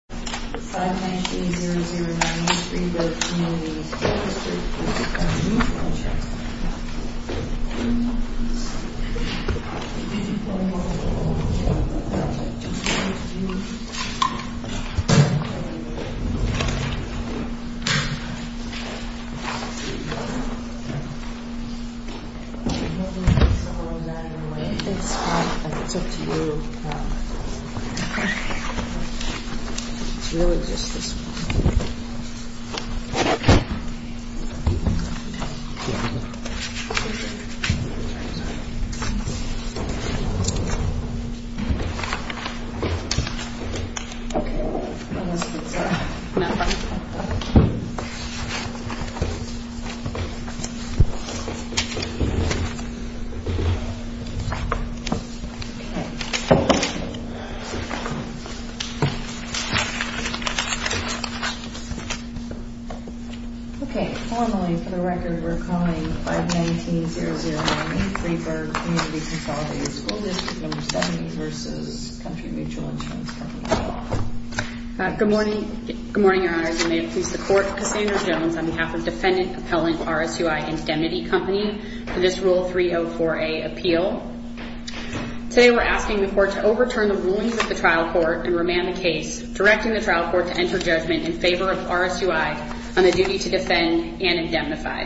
598-009-03-Burg Comm. School District 70 School District 70, County Mutal Insurance Company 50.1-019-019-03-Burg Comm. School District 70 County Mutal Insurance Company 50.1-019-019-03-Burg Comm. School District 70 Okay. It's really just this one. Okay. Okay. Okay. Okay. Formally, for the record, we're calling 519-009-03-Burg Community Consolidated School District Number 70 v. Country Mutual Insurance Company. Good morning. Good morning, Your Honors. I'm going to introduce the court, Cassandra Jones, on behalf of Defendant Appellant RSUI Indemnity Company for this Rule 304A appeal. Today, we're asking the court to overturn the rulings of the trial court and remand the case, directing the trial court to enter judgment in favor of RSUI on the duty to defend and indemnify.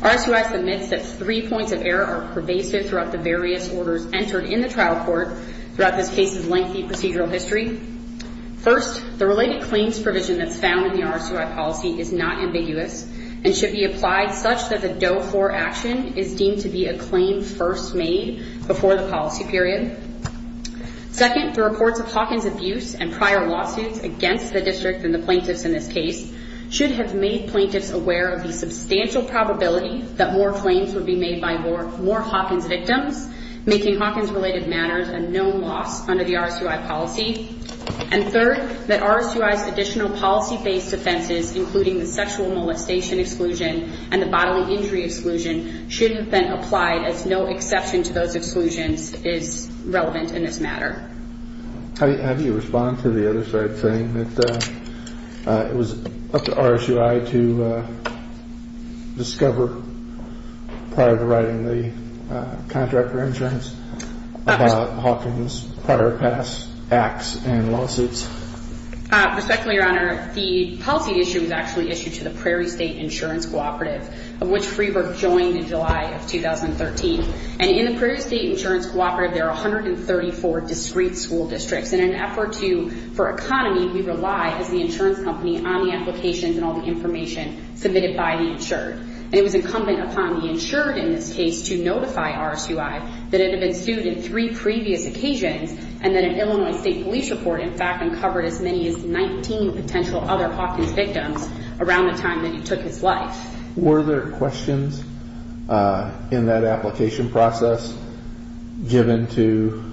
RSUI submits that three points of error are pervasive throughout the various orders entered in the trial court throughout this case's lengthy procedural history. First, the related claims provision that's found in the RSUI policy is not ambiguous and should be applied such that the Doe 4 action is deemed to be a claim first made before the policy period. Second, the reports of Hawkins abuse and prior lawsuits against the district and the plaintiffs in this case should have made plaintiffs aware of the substantial probability that more claims would be made by more Hawkins victims, making Hawkins-related matters a known loss under the RSUI policy. And third, that RSUI's additional policy-based offenses, including the sexual molestation exclusion and the bodily injury exclusion, should have been applied as no exception to those exclusions is relevant in this matter. How do you respond to the other side saying that it was up to RSUI to discover prior to writing the contract for insurance about Hawkins' prior past acts and lawsuits? Respectfully, Your Honor, the policy issue was actually issued to the Prairie State Insurance Cooperative, of which Freeberg joined in July of 2013. And in the Prairie State Insurance Cooperative, there are 134 discrete school districts. In an effort for economy, we rely, as the insurance company, on the applications and all the information submitted by the insured. And it was incumbent upon the insured in this case to notify RSUI that it had been sued in three previous occasions and that an Illinois State Police report, in fact, uncovered as many as 19 potential other Hawkins victims around the time that he took his life. Were there questions in that application process given to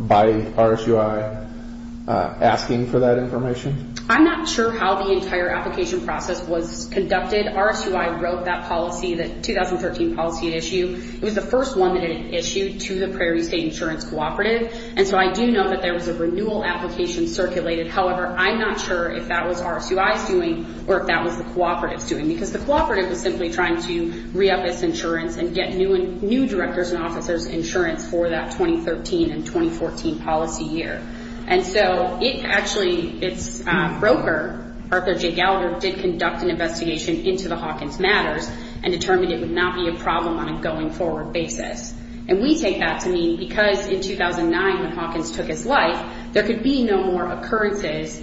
by RSUI asking for that information? I'm not sure how the entire application process was conducted. RSUI wrote that policy, that 2013 policy issue. It was the first one that it issued to the Prairie State Insurance Cooperative. And so I do know that there was a renewal application circulated. However, I'm not sure if that was RSUI's doing or if that was the cooperative's doing because the cooperative was simply trying to re-up its insurance and get new directors and officers insurance for that 2013 and 2014 policy year. And so it actually, its broker, Arthur J. Gallagher, did conduct an investigation into the Hawkins matters and determined it would not be a problem on a going-forward basis. And we take that to mean because in 2009, when Hawkins took his life, there could be no more occurrences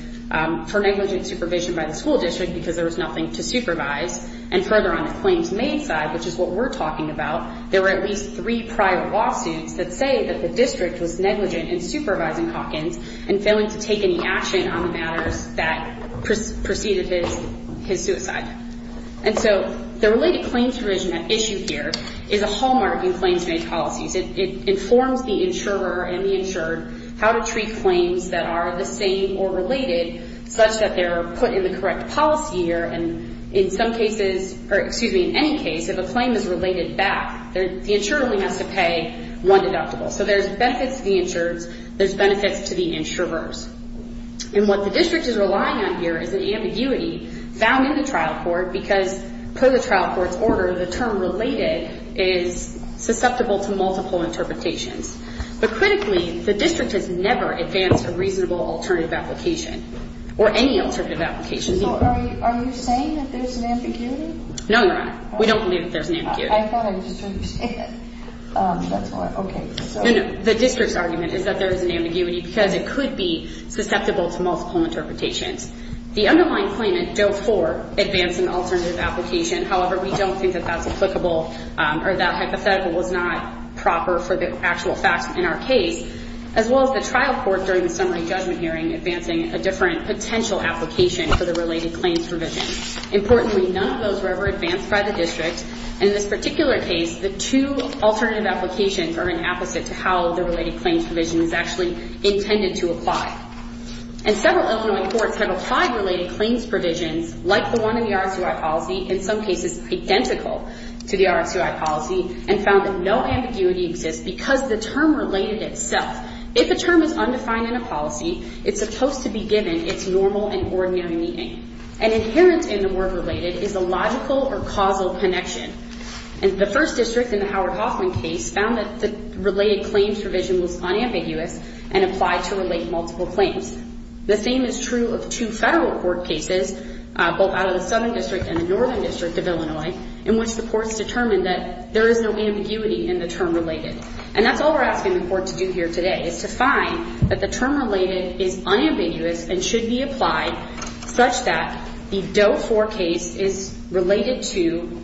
for negligent supervision by the school district because there was nothing to supervise. And further on the claims-made side, which is what we're talking about, there were at least three prior lawsuits that say that the district was negligent in supervising Hawkins and failing to take any action on the matters that preceded his suicide. And so the related claims provision issue here is a hallmark in claims-made policies. It informs the insurer and the insured how to treat claims that are the same or related such that they're put in the correct policy year. And in some cases, or excuse me, in any case, if a claim is related back, the insurer only has to pay one deductible. So there's benefits to the insureds. There's benefits to the insurers. And what the district is relying on here is an ambiguity found in the trial court because per the trial court's order, the term related is susceptible to multiple interpretations. But critically, the district has never advanced a reasonable alternative application or any alternative application. So are you saying that there's an ambiguity? No, Your Honor. We don't believe that there's an ambiguity. I thought I was trying to understand. That's why. Okay. No, no. The district's argument is that there is an ambiguity because it could be susceptible to multiple interpretations. The underlying claimant dove for advancing alternative application. However, we don't think that that's applicable or that hypothetical was not proper for the actual facts in our case, as well as the trial court during the summary judgment hearing advancing a different potential application for the related claims provision. Importantly, none of those were ever advanced by the district. And in this particular case, the two alternative applications are an opposite to how the related claims provision is actually intended to apply. And several Illinois courts have applied related claims provisions like the one in the RSUI policy, in some cases identical to the RSUI policy, and found that no ambiguity exists because the term related itself. If a term is undefined in a policy, it's supposed to be given its normal and ordinary meaning. And inherent in the word related is a logical or causal connection. And the first district in the Howard Hoffman case found that the related claims provision was unambiguous and applied to relate multiple claims. The same is true of two federal court cases, both out of the Southern District and the Northern District of Illinois, in which the courts determined that there is no ambiguity in the term related. And that's all we're asking the court to do here today, is to find that the term related is unambiguous and should be applied such that the dove for case is related to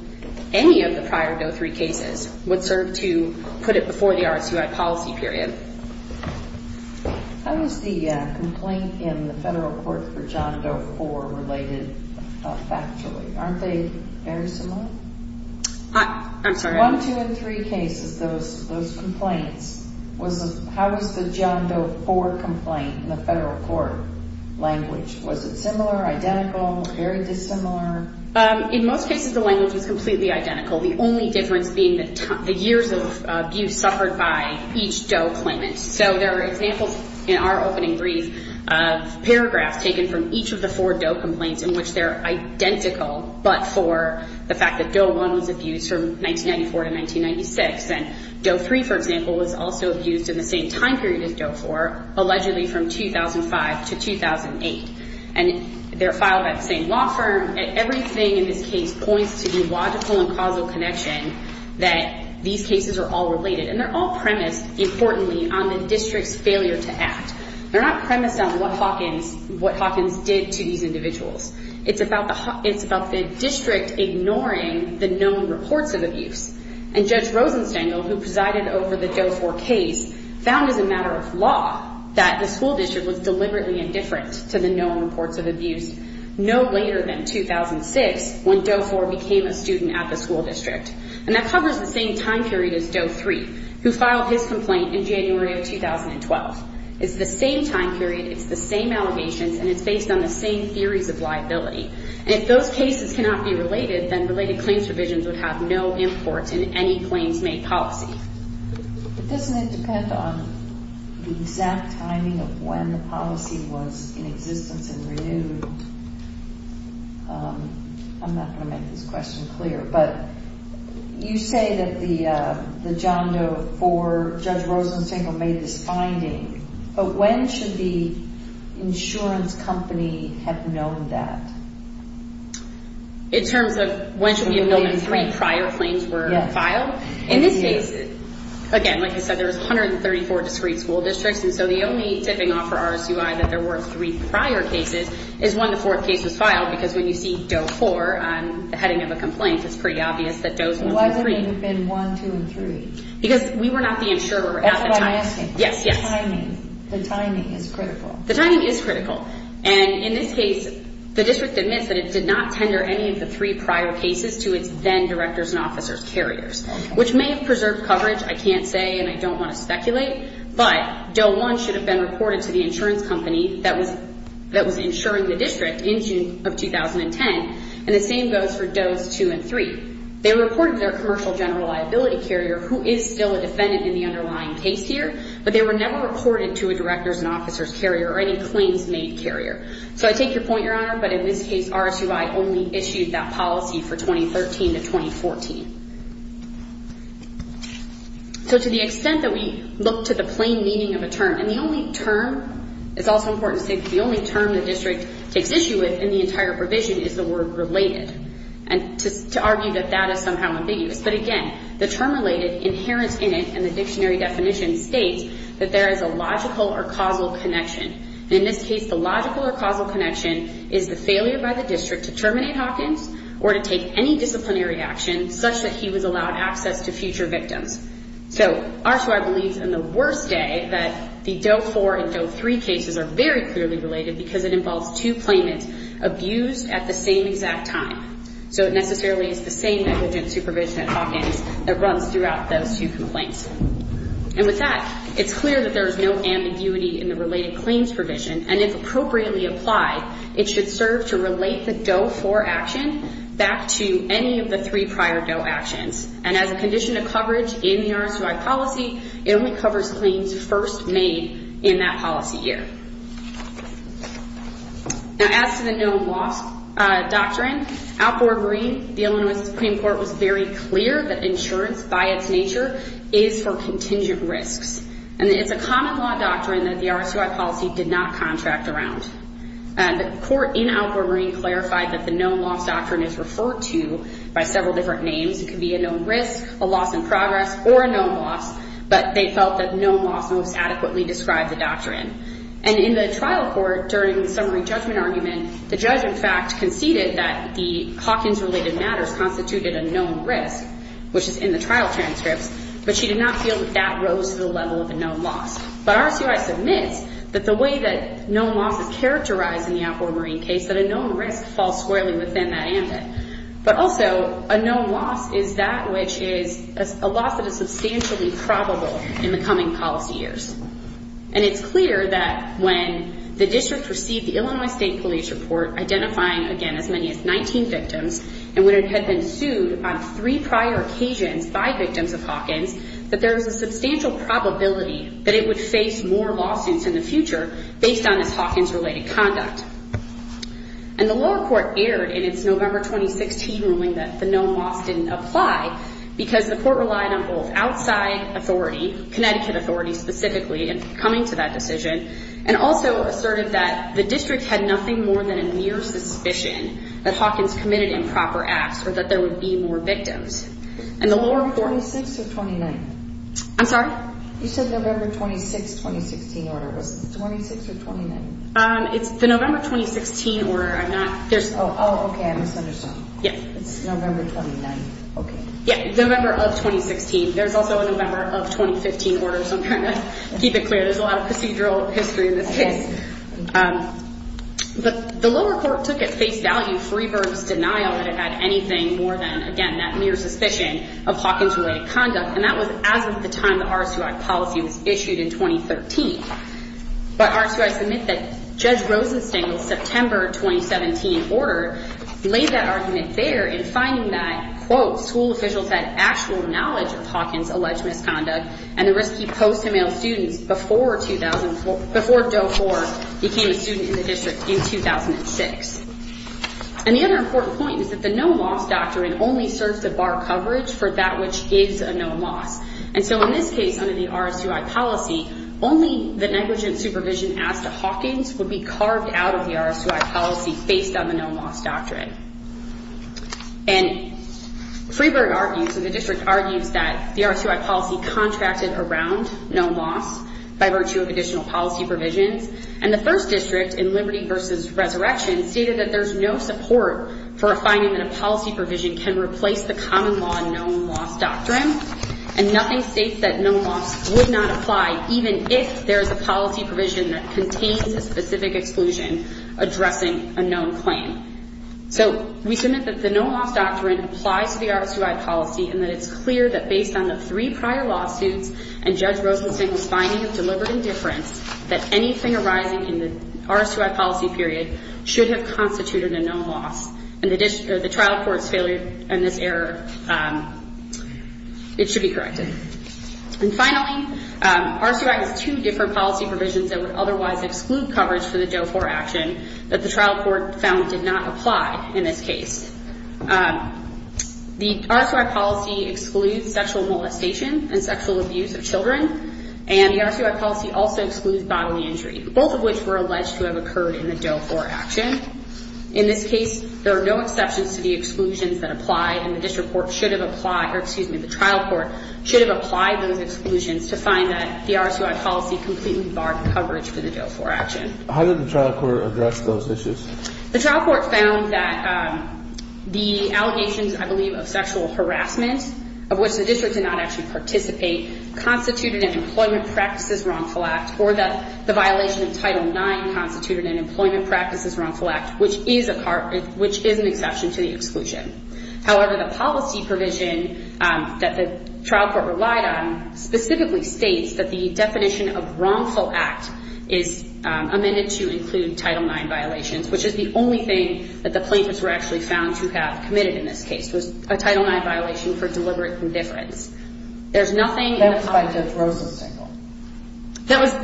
any of the prior dove for cases, would serve to put it before the RSUI policy period. How is the complaint in the federal court for John Doe 4 related factually? Aren't they very similar? I'm sorry? One, two, and three cases, those complaints, how was the John Doe 4 complaint in the federal court language? Was it similar, identical, or very dissimilar? In most cases, the language was completely identical. The only difference being the years of abuse suffered by each Doe claimant. So there are examples in our opening brief of paragraphs taken from each of the four Doe complaints in which they're identical, but for the fact that Doe 1 was abused from 1994 to 1996. And Doe 3, for example, was also abused in the same time period as Doe 4, allegedly from 2005 to 2008. And they're filed by the same law firm. Everything in this case points to the logical and causal connection that these cases are all related. And they're all premised, importantly, on the district's failure to act. They're not premised on what Hawkins did to these individuals. It's about the district ignoring the known reports of abuse. And Judge Rosenstengel, who presided over the Doe 4 case, found as a matter of law that the school district was deliberately indifferent to the known reports of abuse no later than 2006 when Doe 4 became a student at the school district. And that covers the same time period as Doe 3, who filed his complaint in January of 2012. It's the same time period, it's the same allegations, and it's based on the same theories of liability. And if those cases cannot be related, then related claims provisions would have no import in any claims-made policy. It doesn't depend on the exact timing of when the policy was in existence and renewed. I'm not going to make this question clear, but you say that the John Doe 4, Judge Rosenstengel made this finding, but when should the insurance company have known that? In terms of when should we have known when three prior claims were filed? In this case, again, like I said, there was 134 discreet school districts, and so the only tipping off for RSUI that there were three prior cases is when the fourth case was filed, because when you see Doe 4, the heading of a complaint, it's pretty obvious that Doe's 1 and 3. Why didn't it have been 1, 2, and 3? Because we were not the insurer at the time. That's what I'm asking. Yes, yes. The timing, the timing is critical. The timing is critical. And in this case, the district admits that it did not tender any of the three prior cases to its then directors and officers carriers, which may have preserved coverage. I can't say, and I don't want to speculate, but Doe 1 should have been reported to the insurance company that was insuring the district in June of 2010, and the same goes for Doe's 2 and 3. They reported their commercial general liability carrier, who is still a defendant in the underlying case here, but they were never reported to a directors and officers carrier or any claims made carrier. So I take your point, Your Honor, but in this case, RSUI only issued that policy for 2013 to 2014. So to the extent that we look to the plain meaning of a term, and the only term, it's also important to say, the only term the district takes issue with in the entire provision is the word related, and to argue that that is somehow ambiguous. But again, the term related, inherent in it, and the dictionary definition states that there is a logical or causal connection. In this case, the logical or causal connection is the failure by the district to terminate Hawkins or to take any disciplinary action such that he was allowed access to future victims. So RSUI believes in the worst day that the Doe 4 and Doe 3 cases are very clearly related because it involves two claimants abused at the same exact time. So it necessarily is the same negligent supervision at Hawkins that runs throughout those two complaints. And with that, it's clear that there is no ambiguity in the related claims provision, and if appropriately applied, it should serve to relate the Doe 4 action back to any of the three prior Doe actions. And as a condition of coverage in the RSUI policy, it only covers claims first made in that policy year. Now as to the no loss doctrine, outboard green, the Illinois Supreme Court was very clear that insurance by its nature is for contingent risks. And it's a common law doctrine that the RSUI policy did not contract around. The court in outboard green clarified that the no loss doctrine is referred to by several different names. It could be a known risk, a loss in progress, or a known loss, but they felt that known loss most adequately described the doctrine. And in the trial court, during the summary judgment argument, the judge, in fact, conceded that the Hawkins-related matters constituted a known risk, which is in the trial transcripts, but she did not feel that that rose to the level of a known loss. But RSUI submits that the way that known loss is characterized in the outboard green case, that a known risk falls squarely within that ambit. But also, a known loss is that which is a loss that is substantially probable in the coming policy years. And it's clear that when the district received the Illinois State Police Report identifying, again, as many as 19 victims, and when it had been sued on three prior occasions by victims of Hawkins, that there was a substantial probability that it would face more lawsuits in the future based on this Hawkins-related conduct. And the lower court erred in its November 2016 ruling that the known loss didn't apply because the court relied on both outside authority, Connecticut authority specifically, in coming to that decision, and also asserted that the district had nothing more than a mere suspicion that Hawkins committed improper acts or that there would be more victims. And the lower court... 46 or 29? I'm sorry? You said November 26, 2016 order. Was it 26 or 29? It's the November 2016 order. I'm not... Oh, okay. I misunderstood. Yeah. It's November 29. Okay. Yeah, November of 2016. There's also a November of 2015 order, so I'm trying to keep it clear. There's a lot of procedural history in this case. But the lower court took at face value Freeberg's denial that it had anything more than, again, that mere suspicion of Hawkins-related conduct, and that was as of the time the RSUI policy was issued in 2013. But RSUI submit that Judge Rosenstengel's September 2017 order laid that argument there in finding that, quote, school officials had actual knowledge of Hawkins-alleged misconduct and the risk he posed to male students before Doe 4 became a student in the district in 2006. And the other important point is that the known loss doctrine only serves to bar coverage for that which is a known loss. And so in this case, under the RSUI policy, only the negligent supervision as to Hawkins would be carved out of the RSUI policy based on the known loss doctrine. And Freeberg argues, or the district argues, that the RSUI policy contracted around known loss by virtue of additional policy provisions. And the first district in Liberty v. Resurrection stated that there's no support for a finding that a policy provision can replace the common law known loss doctrine. And nothing states that known loss would not apply even if there is a policy provision that contains a specific exclusion addressing a known claim. So we submit that the known loss doctrine applies to the RSUI policy and that it's clear that based on the three prior lawsuits and Judge Rosenstengel's finding of deliberate indifference that anything arising in the RSUI policy period should have constituted a known loss. And the trial court's failure in this error, it should be corrected. And finally, RSUI has two different policy provisions that would otherwise exclude coverage for the DOE-IV action that the trial court found did not apply in this case. The RSUI policy excludes sexual molestation and sexual abuse of children, and the RSUI policy also excludes bodily injury, both of which were alleged to have occurred in the DOE-IV action. In this case, there are no exceptions to the exclusions that apply, and the district court should have applied or, excuse me, the trial court should have applied those exclusions to find that the RSUI policy completely barred coverage for the DOE-IV action. How did the trial court address those issues? The trial court found that the allegations, I believe, of sexual harassment, of which the district did not actually participate, constituted an employment practices wrongful act or that the violation of Title IX constituted an employment practices wrongful act, which is an exception to the exclusion. However, the policy provision that the trial court relied on specifically states that the definition of wrongful act is amended to include Title IX violations, which is the only thing that the plaintiffs were actually found to have committed in this case, was a Title IX violation for deliberate indifference. That was by Judge Rosa's single.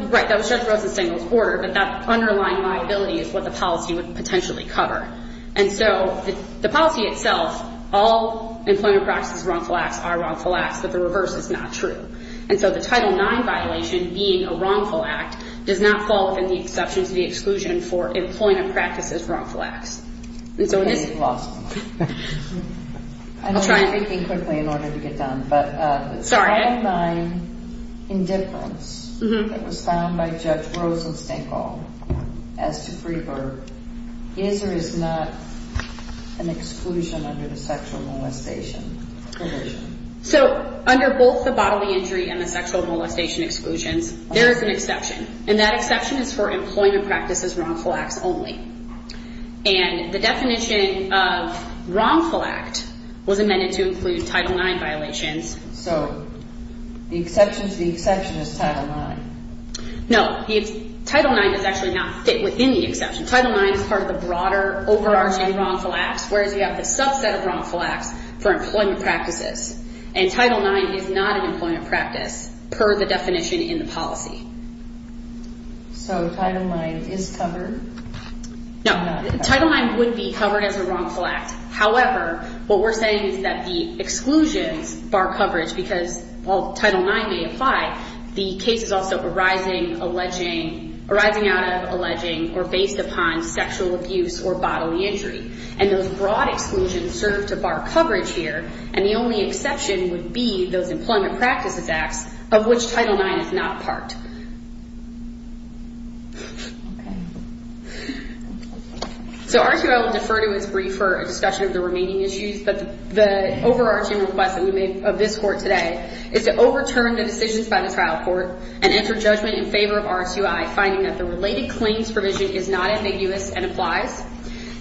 Right, that was Judge Rosa's single's order, but that underlying liability is what the policy would potentially cover. And so the policy itself, all employment practices wrongful acts are wrongful acts, but the reverse is not true. And so the Title IX violation, being a wrongful act, does not fall within the exceptions to the exclusion for employment practices wrongful acts. Okay, you've lost. I'm trying to think quickly in order to get done. Sorry. The Title IX indifference that was found by Judge Rosa's single as to free her, is or is not an exclusion under the sexual molestation provision. So under both the bodily injury and the sexual molestation exclusions, there is an exception, and that exception is for employment practices wrongful acts only. And the definition of wrongful act was amended to include Title IX violations. So the exception to the exception is Title IX. No, Title IX does actually not fit within the exception. Title IX is part of the broader overarching wrongful acts, whereas you have the subset of wrongful acts for employment practices. And Title IX is not an employment practice per the definition in the policy. So Title IX is covered? No, Title IX would be covered as a wrongful act. However, what we're saying is that the exclusions bar coverage, because while Title IX may apply, the case is also arising out of alleging or based upon sexual abuse or bodily injury. And those broad exclusions serve to bar coverage here, and the only exception would be those employment practices acts of which Title IX is not part. So RQI will defer to its brief for a discussion of the remaining issues, but the overarching request that we made of this Court today is to overturn the decisions by the trial court and enter judgment in favor of RQI, finding that the related claims provision is not ambiguous and applies,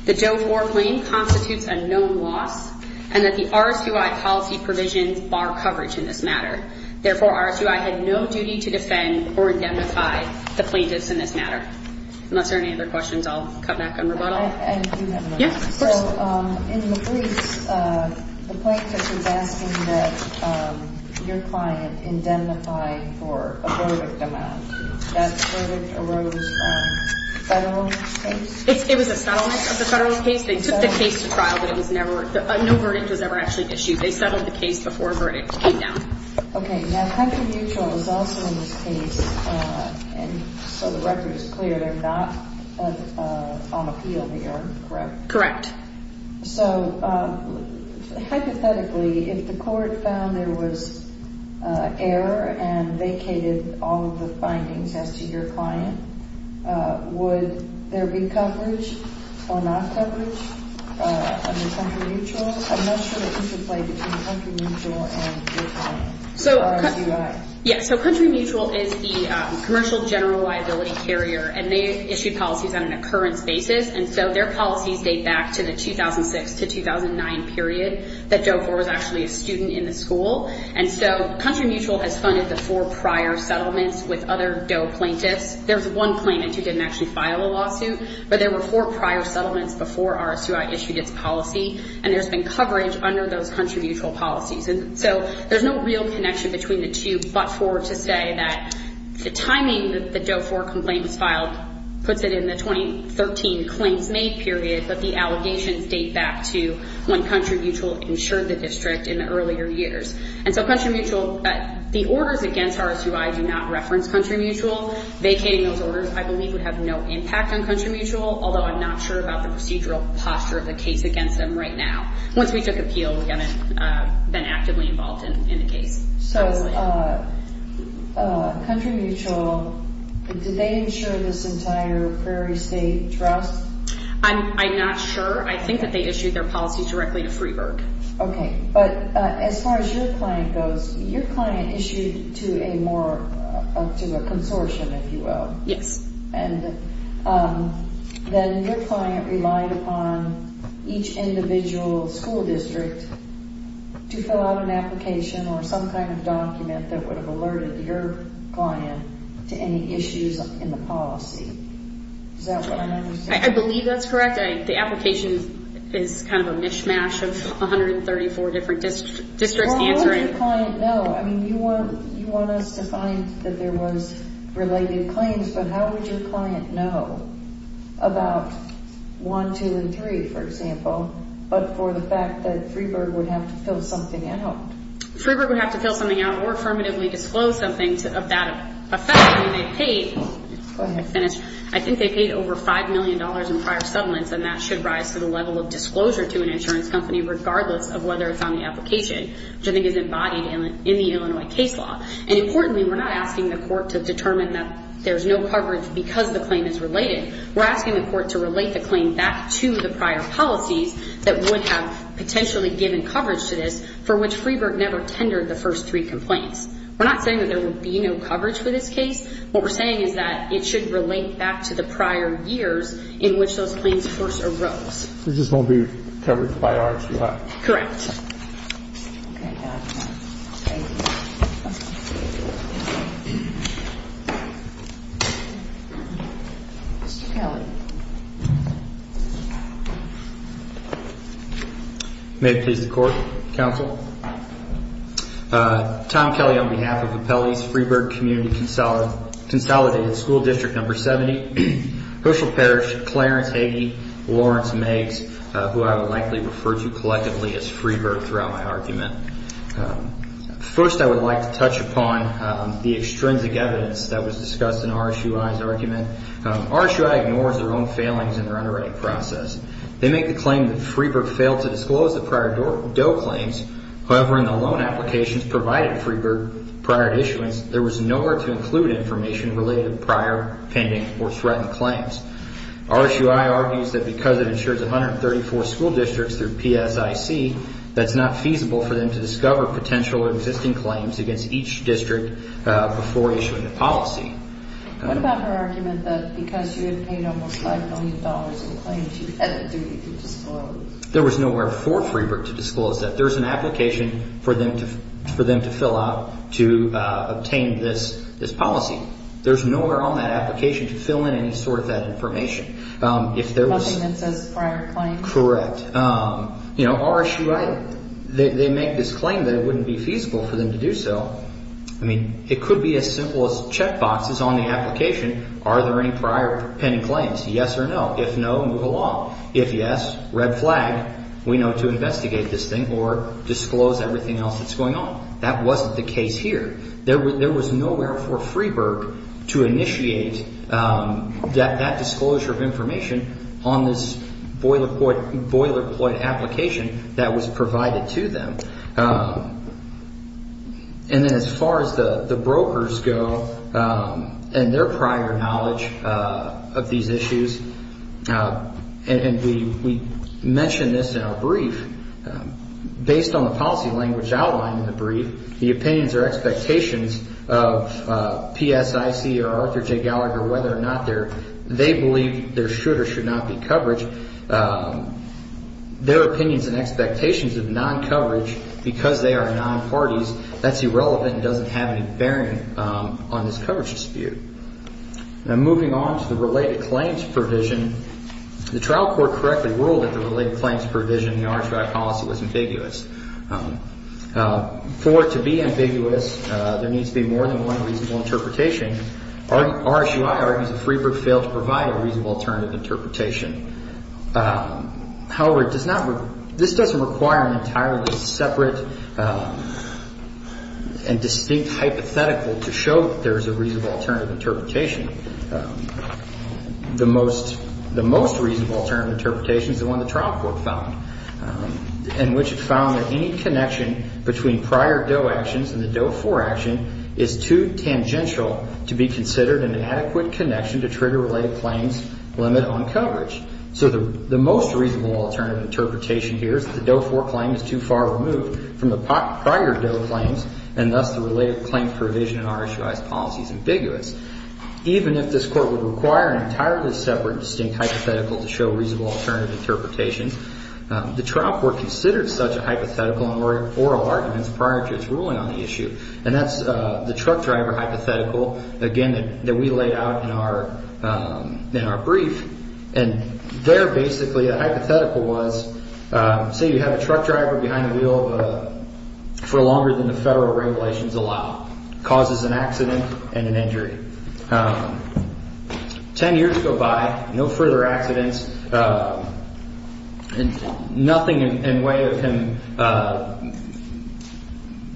the Doe 4 claim constitutes a known loss, and that the RQI policy provisions bar coverage in this matter. Therefore, RQI had no duty to defend or indemnify the plaintiffs in this matter. Unless there are any other questions, I'll come back and rebuttal. I do have one. Yeah, of course. So in the briefs, the plaintiff is asking that your client indemnify for a verdict amount. That verdict arose by the whole case? It was a settlement of the federal case. They took the case to trial, but no verdict was ever actually issued. They settled the case before a verdict came down. Okay. Now, Hunter Mutual is also in this case, and so the record is clear, they're not on appeal here, correct? Correct. So hypothetically, if the court found there was error and vacated all of the findings as to your client, would there be coverage or not coverage under Country Mutual? I'm not sure that this would play between Country Mutual and RQI. Yeah, so Country Mutual is the commercial general liability carrier, and they issue policies on an occurrence basis, and so their policies date back to the 2006 to 2009 period that Doe 4 was actually a student in the school. And so Country Mutual has funded the four prior settlements with other Doe plaintiffs. There's one plaintiff who didn't actually file a lawsuit, but there were four prior settlements before RSUI issued its policy, and there's been coverage under those Country Mutual policies. And so there's no real connection between the two but for to say that the timing that the Doe 4 complaint was filed puts it in the 2013 claims made period, but the allegations date back to when Country Mutual insured the district in the earlier years. And so Country Mutual, the orders against RSUI do not reference Country Mutual. Vacating those orders, I believe, would have no impact on Country Mutual, although I'm not sure about the procedural posture of the case against them right now. Once we took appeal, we haven't been actively involved in the case. So Country Mutual, did they insure this entire Prairie State Trust? I'm not sure. I think that they issued their policies directly to Freeburg. Okay. But as far as your client goes, your client issued to a consortium, if you will. Yes. And then your client relied upon each individual school district to fill out an application or some kind of document that would have alerted your client to any issues in the policy. Is that what I'm understanding? I believe that's correct. The application is kind of a mishmash of 134 different districts answering. Well, how would your client know? I mean, you want us to find that there was related claims, but how would your client know about 1, 2, and 3, for example, but for the fact that Freeburg would have to fill something out? Freeburg would have to fill something out or affirmatively disclose something of that effect. Go ahead. I think they paid over $5 million in prior settlements, and that should rise to the level of disclosure to an insurance company regardless of whether it's on the application, which I think is embodied in the Illinois case law. And importantly, we're not asking the court to determine that there's no coverage because the claim is related. We're asking the court to relate the claim back to the prior policies that would have potentially given coverage to this, for which Freeburg never tendered the first three complaints. We're not saying that there would be no coverage for this case. What we're saying is that it should relate back to the prior years in which those claims first arose. It just won't be covered by our act. Correct. May it please the Court, Counsel. Tom Kelly on behalf of Appellees, Freeburg Community Consolidated School District No. 70, Herschel Parish, Clarence Hagey, Lawrence Maggs, who I would likely refer to collectively as Freeburg throughout my argument. First, I would like to touch upon the extrinsic evidence that was discussed in RSUI's argument. RSUI ignores their own failings in their underwriting process. They make the claim that Freeburg failed to disclose the prior DOE claims. However, in the loan applications provided to Freeburg prior to issuance, there was nowhere to include information related to prior pending or threatened claims. RSUI argues that because it insures 134 school districts through PSIC, that's not feasible for them to discover potential existing claims against each district before issuing the policy. What about her argument that because you had paid almost $5 million in claims, you had the duty to disclose? There was nowhere for Freeburg to disclose that. There's an application for them to fill out to obtain this policy. There's nowhere on that application to fill in any sort of that information. Nothing that says prior claims? Correct. You know, RSUI, they make this claim that it wouldn't be feasible for them to do so. I mean, it could be as simple as check boxes on the application. Are there any prior pending claims? Yes or no? If no, move along. If yes, red flag. We know to investigate this thing or disclose everything else that's going on. That wasn't the case here. There was nowhere for Freeburg to initiate that disclosure of information on this boilerplate application that was provided to them. And then as far as the brokers go and their prior knowledge of these issues, and we mentioned this in our brief, based on the policy language outlined in the brief, the opinions or expectations of PSIC or Arthur J. Gallagher, whether or not they believe there should or should not be coverage, their opinions and expectations of non-coverage because they are non-parties, that's irrelevant and doesn't have any bearing on this coverage dispute. Now, moving on to the related claims provision, the trial court correctly ruled that the related claims provision in the RSUI policy was ambiguous. For it to be ambiguous, there needs to be more than one reasonable interpretation. RSUI argues that Freeburg failed to provide a reasonable alternative interpretation. However, this doesn't require an entirely separate and distinct hypothetical to show that there is a reasonable alternative interpretation. The most reasonable alternative interpretation is the one the trial court found, in which it found that any connection between prior Doe actions and the Doe 4 action is too tangential to be considered an adequate connection to trigger related claims limit on coverage. So the most reasonable alternative interpretation here is that the Doe 4 claim is too far removed from the prior Doe claims, and thus the related claim provision in RSUI's policy is ambiguous. Even if this court would require an entirely separate and distinct hypothetical to show a reasonable alternative interpretation, the trial court considered such a hypothetical in oral arguments prior to its ruling on the issue. And that's the truck driver hypothetical, again, that we laid out in our brief. And there, basically, the hypothetical was, say you have a truck driver behind the wheel for longer than the federal regulations allow. Ten years go by, no further accidents, nothing in way of him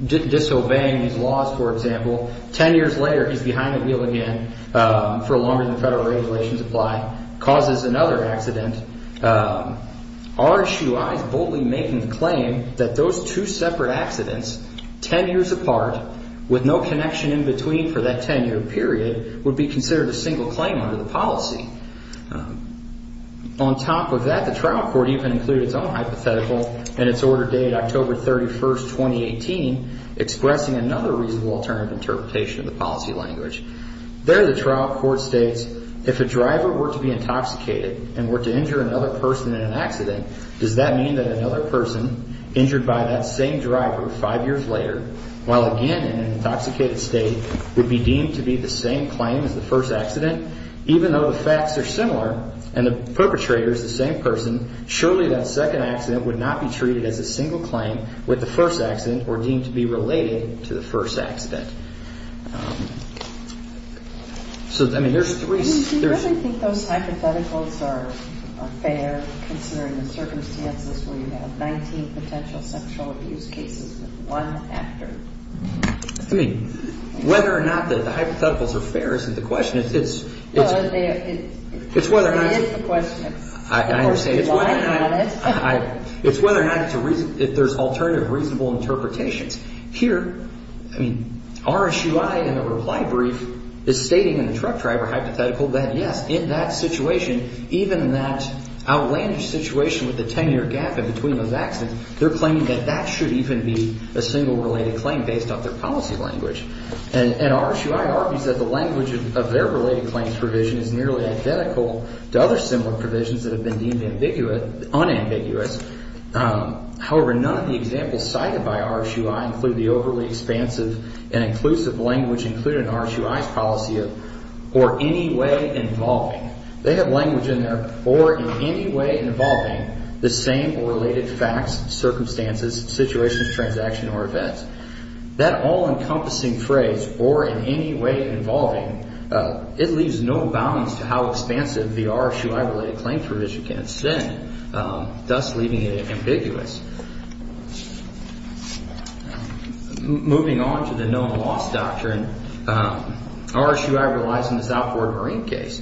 disobeying his laws, for example. Ten years later, he's behind the wheel again for longer than the federal regulations apply, causes another accident. RSUI is boldly making the claim that those two separate accidents, ten years apart, with no connection in between for that ten-year period, would be considered a single claim under the policy. On top of that, the trial court even included its own hypothetical in its order dated October 31, 2018, expressing another reasonable alternative interpretation of the policy language. There, the trial court states, if a driver were to be intoxicated and were to injure another person in an accident, does that mean that another person injured by that same driver five years later, while again in an intoxicated state, would be deemed to be the same claim as the first accident? Even though the facts are similar and the perpetrator is the same person, surely that second accident would not be treated as a single claim with the first accident or deemed to be related to the first accident. So, I mean, there's three... Do you really think those hypotheticals are fair considering the circumstances where you have 19 potential sexual abuse cases with one actor? I mean, whether or not the hypotheticals are fair isn't the question. It's whether or not... It is the question. I understand. It's whether or not there's alternative reasonable interpretations. Here, I mean, RSUI in a reply brief is stating in the truck driver hypothetical that, yes, in that situation, even in that outlandish situation with the 10-year gap in between those accidents, they're claiming that that should even be a single related claim based off their policy language. And RSUI argues that the language of their related claims provision is nearly identical to other similar provisions that have been deemed unambiguous. However, none of the examples cited by RSUI include the overly expansive and inclusive language included in RSUI's policy of or any way involving. They have language in there, or in any way involving the same or related facts, circumstances, situations, transactions, or events. That all-encompassing phrase, or in any way involving, it leaves no bounds to how expansive the RSUI related claim provision can extend. Thus, leaving it ambiguous. Moving on to the known loss doctrine, RSUI relies on this outboard marine case.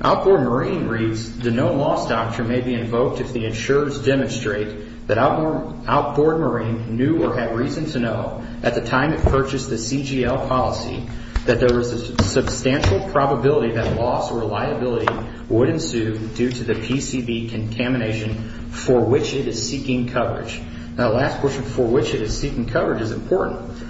Outboard marine reads the known loss doctrine may be invoked if the insurers demonstrate that outboard marine knew or had reason to know at the time it purchased the CGL policy that there was a substantial probability that loss or liability would ensue due to the PCB contamination for which it is seeking coverage. Now, the last question, for which it is seeking coverage, is important.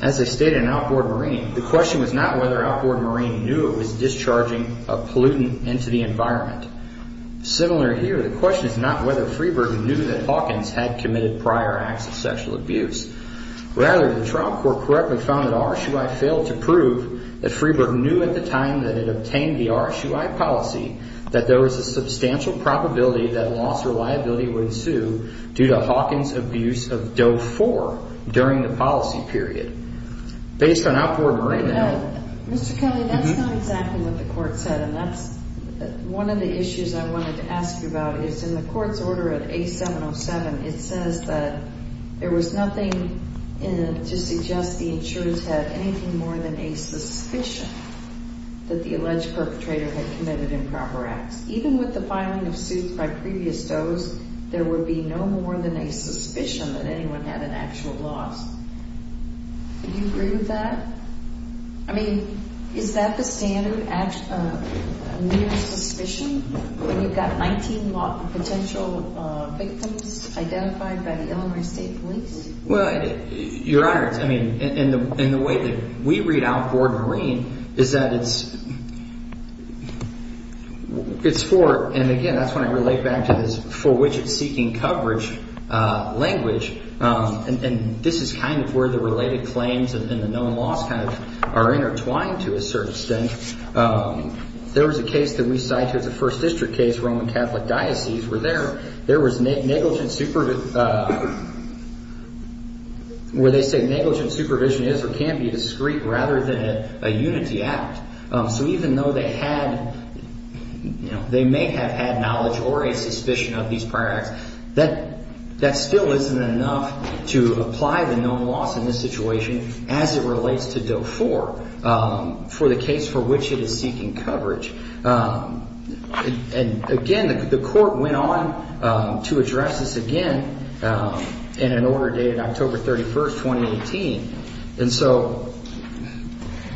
As I stated in outboard marine, the question was not whether outboard marine knew it was discharging a pollutant into the environment. Similar here, the question is not whether Freeberg knew that Hawkins had committed prior acts of sexual abuse. Rather, the trial court correctly found that RSUI failed to prove that Freeberg knew at the time that it obtained the RSUI policy that there was a substantial probability that loss or liability would ensue due to Hawkins' abuse of Doe 4 during the policy period. Based on outboard marine... Mr. Kelly, that's not exactly what the court said, and that's one of the issues I wanted to ask you about. It's in the court's order at A707. It says that there was nothing to suggest the insurers had anything more than a suspicion that the alleged perpetrator had committed improper acts. Even with the filing of suits by previous Does, there would be no more than a suspicion that anyone had an actual loss. Do you agree with that? I mean, is that the standard near suspicion when you've got 19 potential victims identified by the Illinois State Police? Well, Your Honor, I mean, in the way that we read outboard marine is that it's for, and again, that's when I relate back to this for which it's seeking coverage language, and this is kind of where the related claims and the known loss kind of are intertwined to a certain extent. There was a case that we cited, the First District case, Roman Catholic Diocese, where they say negligent supervision is or can be discreet rather than a unity act. So even though they may have had knowledge or a suspicion of these prior acts, that still isn't enough to apply the known loss in this situation as it relates to Doe 4 for the case for which it is seeking coverage. And again, the court went on to address this again in an order dated October 31st, 2018. And so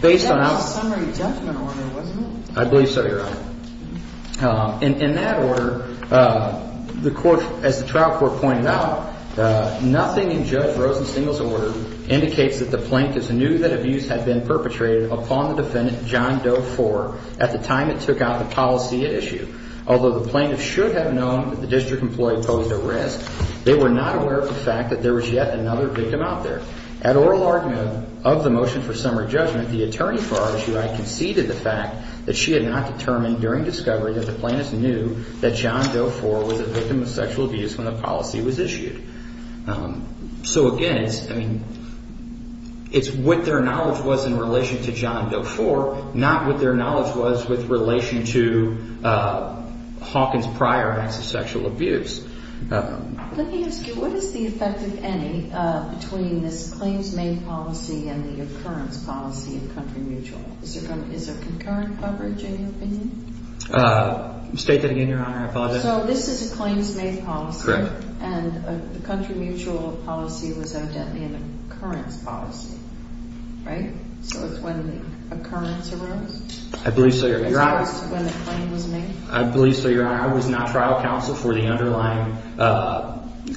based on that summary judgment order, wasn't it? I believe so, Your Honor. In that order, the court, as the trial court pointed out, nothing in Judge Rosenstein's order indicates that the plaintiff knew that abuse had been perpetrated upon the defendant, John Doe 4, at the time it took out the policy at issue. Although the plaintiff should have known that the district employee posed a risk, they were not aware of the fact that there was yet another victim out there. At oral argument of the motion for summary judgment, the attorney for our issue had conceded the fact that she had not determined during discovery that the plaintiff knew that John Doe 4 was a victim of sexual abuse when the policy was issued. So again, it's what their knowledge was in relation to John Doe 4, not what their knowledge was with relation to Hawkins' prior acts of sexual abuse. Let me ask you, what is the effect of any between this claims made policy and the occurrence policy of country mutual? Is there concurrent coverage, in your opinion? State that again, Your Honor. I apologize. So this is a claims made policy? Correct. And the country mutual policy was evidently an occurrence policy, right? So it's when the occurrence arose? I believe so, Your Honor. As opposed to when the claim was made? I believe so, Your Honor. I was not trial counsel for the underlying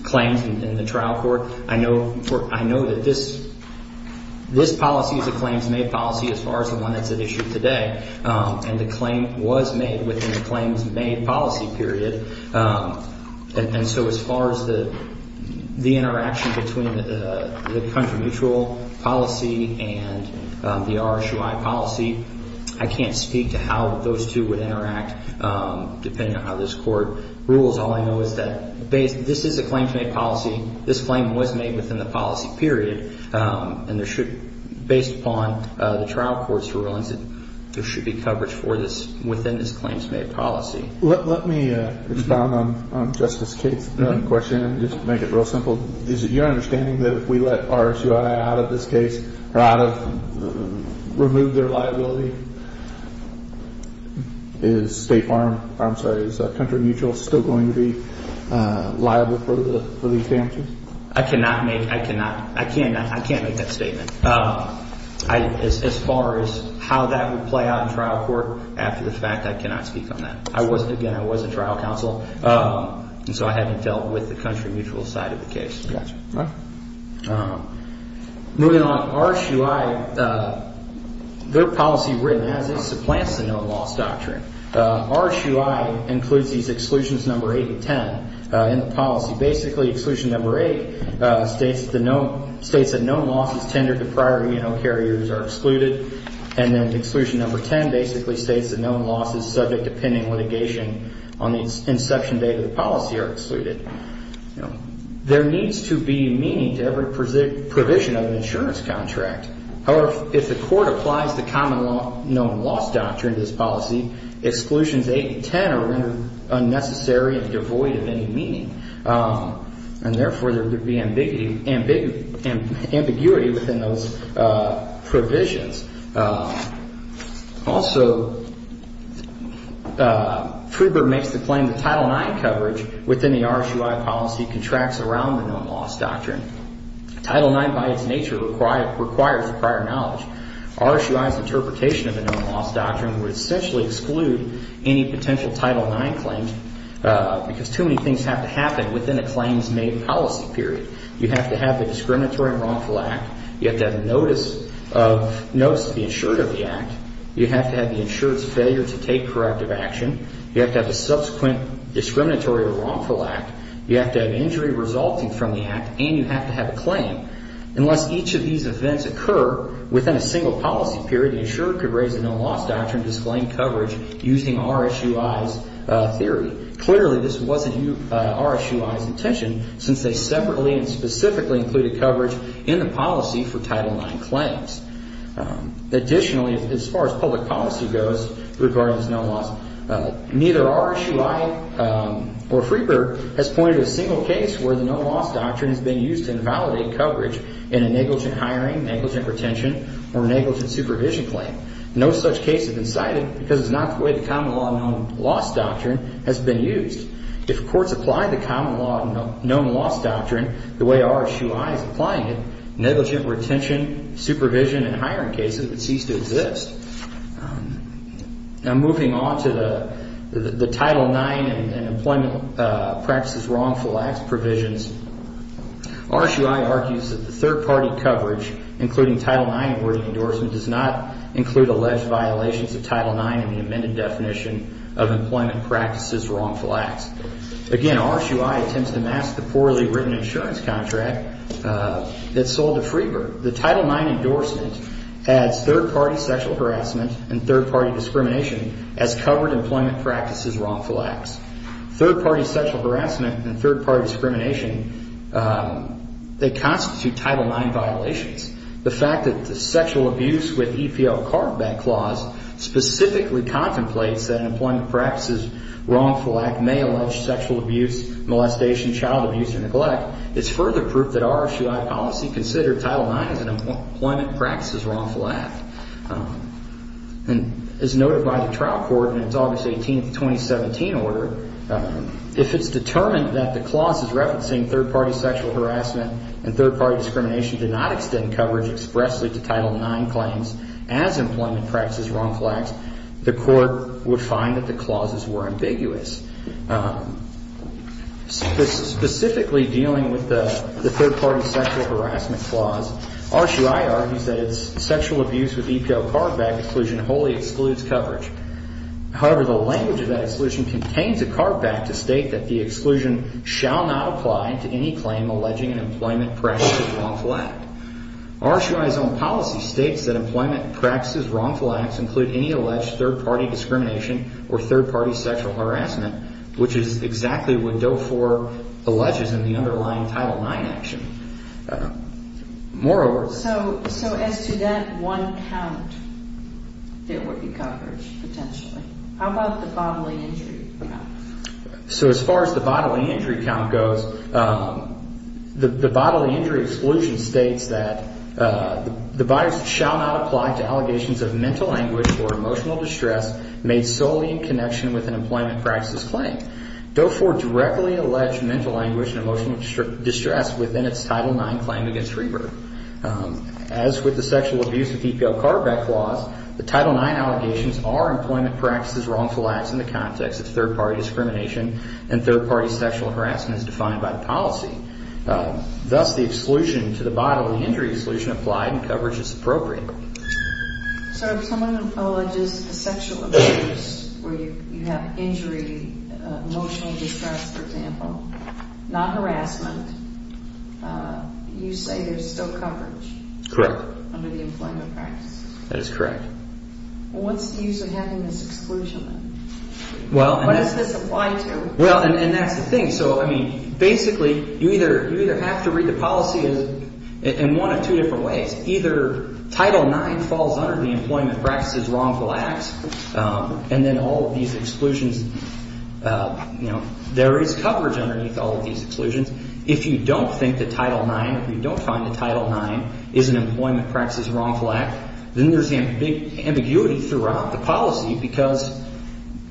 claims in the trial court. I know that this policy is a claims made policy as far as the one that's at issue today. And the claim was made within the claims made policy period. And so as far as the interaction between the country mutual policy and the RSUI policy, I can't speak to how those two would interact depending on how this court rules. All I know is that this is a claims made policy. This claim was made within the policy period. And there should, based upon the trial court's rulings, there should be coverage for this within this claims made policy. Let me expound on Justice Kate's question and just make it real simple. Is it your understanding that if we let RSUI out of this case, or out of, remove their liability, is State Farm, I'm sorry, is Country Mutual still going to be liable for these damages? I cannot make, I cannot, I can't make that statement. As far as how that would play out in trial court, after the fact, I cannot speak on that. I wasn't, again, I wasn't trial counsel. And so I haven't dealt with the Country Mutual side of the case. Moving on, RSUI, their policy written as it supplants the known loss doctrine. RSUI includes these exclusions number 8 and 10 in the policy. Basically, exclusion number 8 states that known losses tendered to prior, you know, carriers are excluded. And then exclusion number 10 basically states that known losses subject to pending litigation on the inception date of the policy are excluded. There needs to be meaning to every provision of an insurance contract. However, if the court applies the common known loss doctrine to this policy, exclusions 8 and 10 are rendered unnecessary and devoid of any meaning. And therefore, there would be ambiguity within those provisions. Also, Friedberg makes the claim that Title IX coverage within the RSUI policy contracts around the known loss doctrine. Title IX, by its nature, requires prior knowledge. RSUI's interpretation of the known loss doctrine would essentially exclude any potential Title IX claims because too many things have to happen within a claims-made policy period. You have to have the discriminatory and wrongful act. You have to have notice to be insured of the act. You have to have the insured's failure to take corrective action. You have to have a subsequent discriminatory or wrongful act. You have to have injury resulting from the act. And you have to have a claim. Unless each of these events occur within a single policy period, the insured could raise the known loss doctrine to disclaim coverage using RSUI's theory. Clearly, this wasn't RSUI's intention, since they separately and specifically included coverage in the policy for Title IX claims. Additionally, as far as public policy goes regarding this known loss, neither RSUI or Friedberg has pointed to a single case where the known loss doctrine has been used to invalidate coverage in a negligent hiring, negligent retention, or negligent supervision claim. No such case has been cited because it's not the way the common law known loss doctrine has been used. If courts apply the common law known loss doctrine the way RSUI is applying it, negligent retention, supervision, and hiring cases would cease to exist. Now, moving on to the Title IX and employment practices wrongful acts provisions, RSUI argues that the third-party coverage, including Title IX awarding endorsement, does not include alleged violations of Title IX in the amended definition of employment practices wrongful acts. Again, RSUI attempts to mask the poorly written insurance contract that sold to Friedberg. The Title IX endorsement adds third-party sexual harassment and third-party discrimination as covered employment practices wrongful acts. Third-party sexual harassment and third-party discrimination, they constitute Title IX violations. The fact that the sexual abuse with EPL carve-back clause specifically contemplates that an employment practices wrongful act may allege sexual abuse, molestation, child abuse, and neglect is further proof that RSUI policy considered Title IX as an employment practices wrongful act. And as noted by the trial court in its August 18, 2017 order, if it's determined that the clause is referencing third-party sexual harassment and third-party discrimination did not extend coverage expressly to Title IX claims as employment practices wrongful acts, the court would find that the clauses were ambiguous. Specifically dealing with the third-party sexual harassment clause, RSUI argues that its sexual abuse with EPL carve-back exclusion wholly excludes coverage. However, the language of that exclusion contains a carve-back to state that the exclusion shall not apply to any claim alleging an employment practices wrongful act. RSUI's own policy states that employment practices wrongful acts include any alleged third-party discrimination or third-party sexual harassment, which is exactly what DOE IV alleges in the underlying Title IX action. Moreover... So as to that one count that would be covered potentially, how about the bodily injury count? So as far as the bodily injury count goes, the bodily injury exclusion states that the bodies shall not apply to allegations of mental anguish or emotional distress made solely in connection with an employment practices claim. DOE IV directly alleged mental anguish and emotional distress within its Title IX claim against Reber. As with the sexual abuse with EPL carve-back clause, the Title IX allegations are employment practices wrongful acts in the context of third-party discrimination and third-party sexual harassment as defined by the policy. Thus, the exclusion to the bodily injury exclusion applied and coverage is appropriate. So if someone alleges a sexual abuse where you have injury, emotional distress, for example, not harassment, you say there's still coverage? Correct. Under the employment practice? That is correct. What's the use of having this exclusion then? What does this apply to? Well, and that's the thing. So, I mean, basically, you either have to read the policy in one of two different ways. Either Title IX falls under the employment practices wrongful acts, and then all of these exclusions, you know, there is coverage underneath all of these exclusions. If you don't think that Title IX, if you don't find that Title IX is an employment practices wrongful act, then there is ambiguity throughout the policy because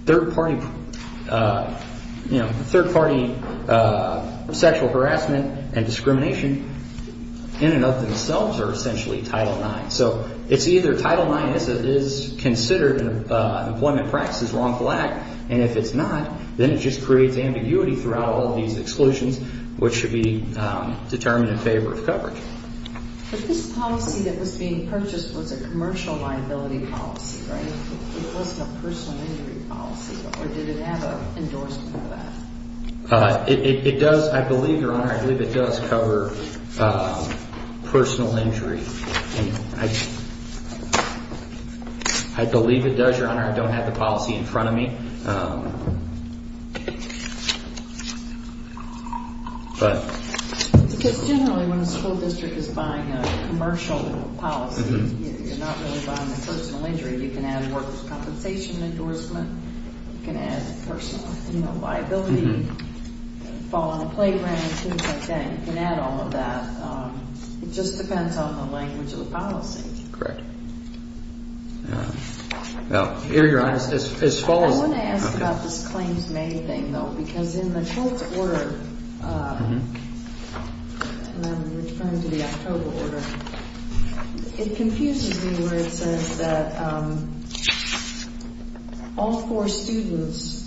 third-party, you know, third-party sexual harassment and discrimination in and of themselves are essentially Title IX. So it's either Title IX is considered an employment practices wrongful act, and if it's not, then it just creates ambiguity throughout all of these exclusions, which should be determined in favor of coverage. But this policy that was being purchased was a commercial liability policy, right? It wasn't a personal injury policy, or did it have an endorsement for that? It does. I believe, Your Honor, I believe it does cover personal injury. I believe it does, Your Honor. I don't have the policy in front of me. Because generally when a school district is buying a commercial policy, you're not really buying a personal injury. You can add workers' compensation endorsement. You can add personal liability, fall on a playground, things like that. You can add all of that. It just depends on the language of the policy. Correct. I was going to ask about this claims made thing, though, because in the 12th Order, and I'm referring to the October Order, it confuses me where it says that all four students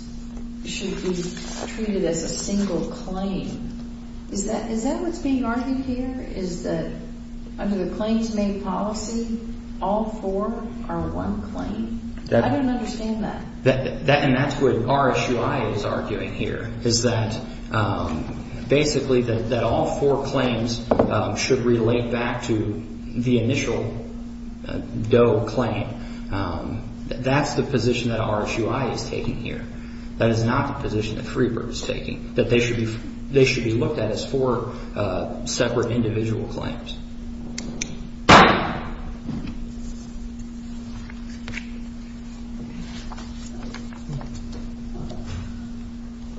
should be treated as a single claim. Is that what's being argued here, is that under the claims made policy, all four are one claim? I don't understand that. And that's what RSUI is arguing here, is that basically that all four claims should relate back to the initial DOE claim. That's the position that RSUI is taking here. That is not the position that Freebird is taking, that they should be looked at as four separate individual claims.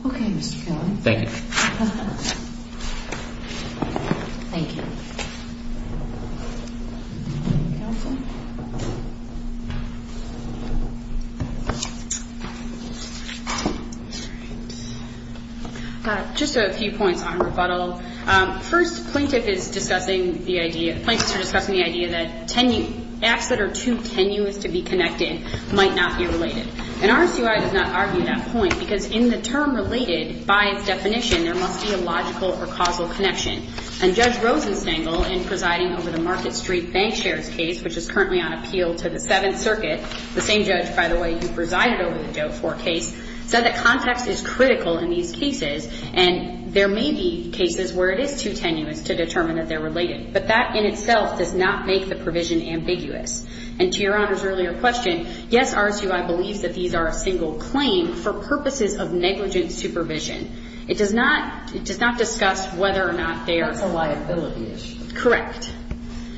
Okay, Mr. Kelly. Thank you. Thank you. Just a few points on rebuttal. First, plaintiffs are discussing the idea that acts that are too tenuous to be connected might not be related. And RSUI does not argue that point because in the term related, by its definition, there must be a logical or causal connection. And Judge Rosenstengel, in presiding over the Market Street bank shares case, which is currently on appeal to the Seventh Circuit, the same judge, by the way, who presided over the DOE IV case, said that context is critical in these cases, and there may be cases where it is too tenuous to determine that they're related. But that in itself does not make the provision ambiguous. And to Your Honor's earlier question, yes, RSUI believes that these are a single claim for purposes of negligent supervision. It does not discuss whether or not they are. That's a liability issue. Correct.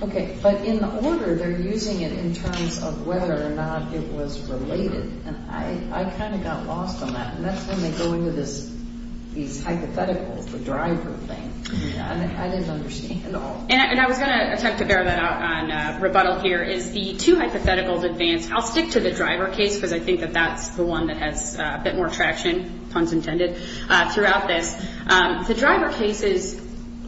Okay. But in order, they're using it in terms of whether or not it was related. And I kind of got lost on that. And that's when they go into these hypotheticals, the driver thing. I didn't understand all. And I was going to attempt to bear that out on rebuttal here, is the two hypotheticals advance. I'll stick to the driver case because I think that that's the one that has a bit more traction, puns intended, throughout this. The driver cases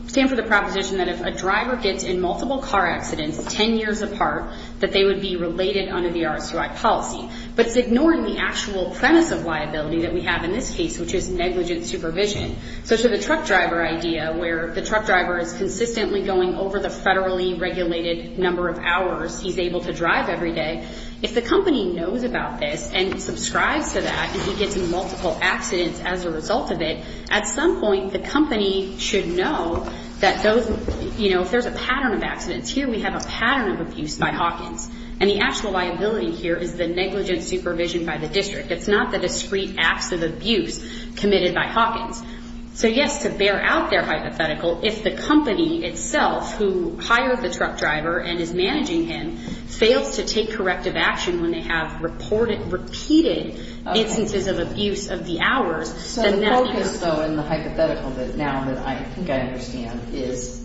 stand for the proposition that if a driver gets in multiple car accidents 10 years apart, that they would be related under the RSUI policy. But it's ignoring the actual premise of liability that we have in this case, which is negligent supervision. So to the truck driver idea, where the truck driver is consistently going over the federally regulated number of hours he's able to drive every day, if the company knows about this and subscribes to that and he gets in multiple accidents as a result of it, at some point the company should know that those, you know, if there's a pattern of accidents. Here we have a pattern of abuse by Hawkins. And the actual liability here is the negligent supervision by the district. It's not the discreet acts of abuse committed by Hawkins. So, yes, to bear out their hypothetical, if the company itself who hired the truck driver and is managing him fails to take corrective action when they have reported repeated instances of abuse of the hours, then that's the error. So the focus, though, in the hypothetical now that I think I understand, is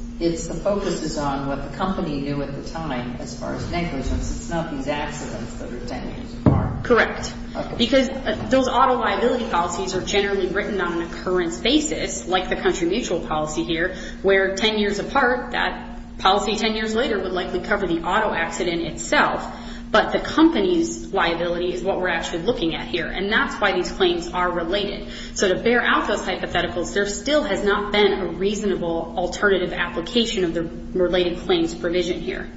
the focus is on what the company knew at the time as far as negligence. It's not these accidents that are 10 years apart. Correct. Because those auto liability policies are generally written on an occurrence basis, like the country mutual policy here, where 10 years apart, that policy 10 years later would likely cover the auto accident itself. But the company's liability is what we're actually looking at here. And that's why these claims are related. So to bear out those hypotheticals, there still has not been a reasonable alternative application of the related claims provision here.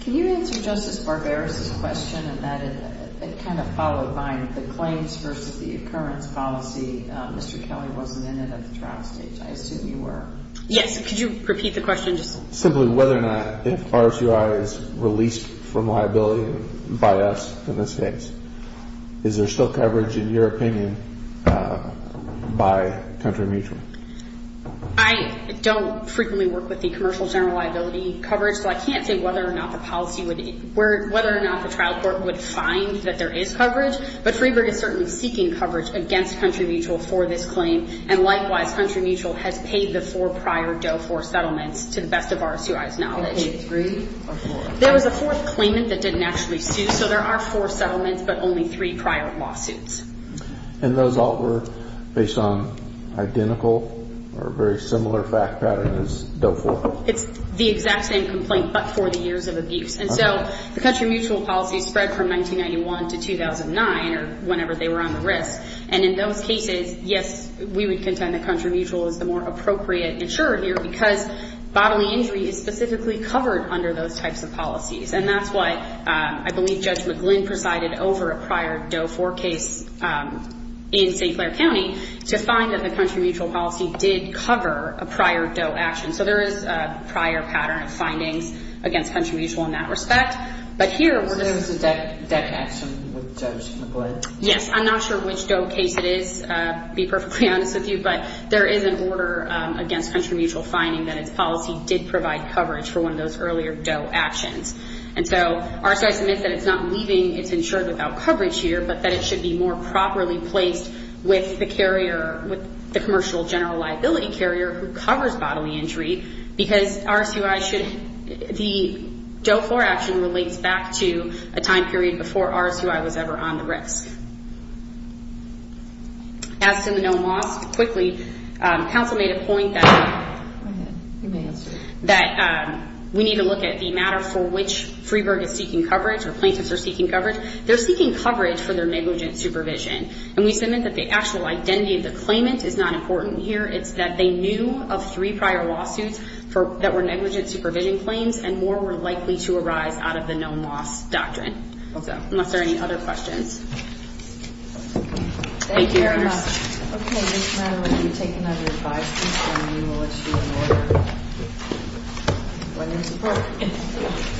Can you answer Justice Barberis' question in that it kind of followed behind the claims versus the occurrence policy? Mr. Kelly wasn't in it at the trial stage. I assume you were. Yes. Could you repeat the question? Simply whether or not if RSUI is released from liability by us in this case, is there still coverage, in your opinion, by country mutual? I don't frequently work with the commercial general liability coverage, so I can't say whether or not the trial court would find that there is coverage. But Freeburg is certainly seeking coverage against country mutual for this claim. And likewise, country mutual has paid the four prior DOE-IV settlements, to the best of RSUI's knowledge. Okay, three or four? There was a fourth claimant that didn't actually sue. So there are four settlements but only three prior lawsuits. And those all were based on identical or very similar fact patterns as DOE-IV? It's the exact same complaint but for the years of abuse. And so the country mutual policy spread from 1991 to 2009 or whenever they were on the risk. And in those cases, yes, we would contend that country mutual is the more appropriate insurer here because bodily injury is specifically covered under those types of policies. And that's why I believe Judge McGlynn presided over a prior DOE-IV case in St. Clair County to find that the country mutual policy did cover a prior DOE action. So there is a prior pattern of findings against country mutual in that respect. So there was a deck action with Judge McGlynn? Yes. I'm not sure which DOE case it is, to be perfectly honest with you. But there is an order against country mutual finding that its policy did provide coverage for one of those earlier DOE actions. And so RSUI submits that it's not leaving its insured without coverage here but that it should be more properly placed with the commercial general liability carrier who covers bodily injury because the DOE-IV action relates back to a time period before RSUI was ever on the risk. As to the known loss, quickly, counsel made a point that we need to look at the matter for which Freeburg is seeking coverage or plaintiffs are seeking coverage. They're seeking coverage for their negligent supervision. And we submit that the actual identity of the claimant is not important here. It's that they knew of three prior lawsuits that were negligent supervision claims and more were likely to arise out of the known loss doctrine. Unless there are any other questions. Thank you very much. Thank you. Okay. This matter will be taken under advisory and we will issue an order when in support.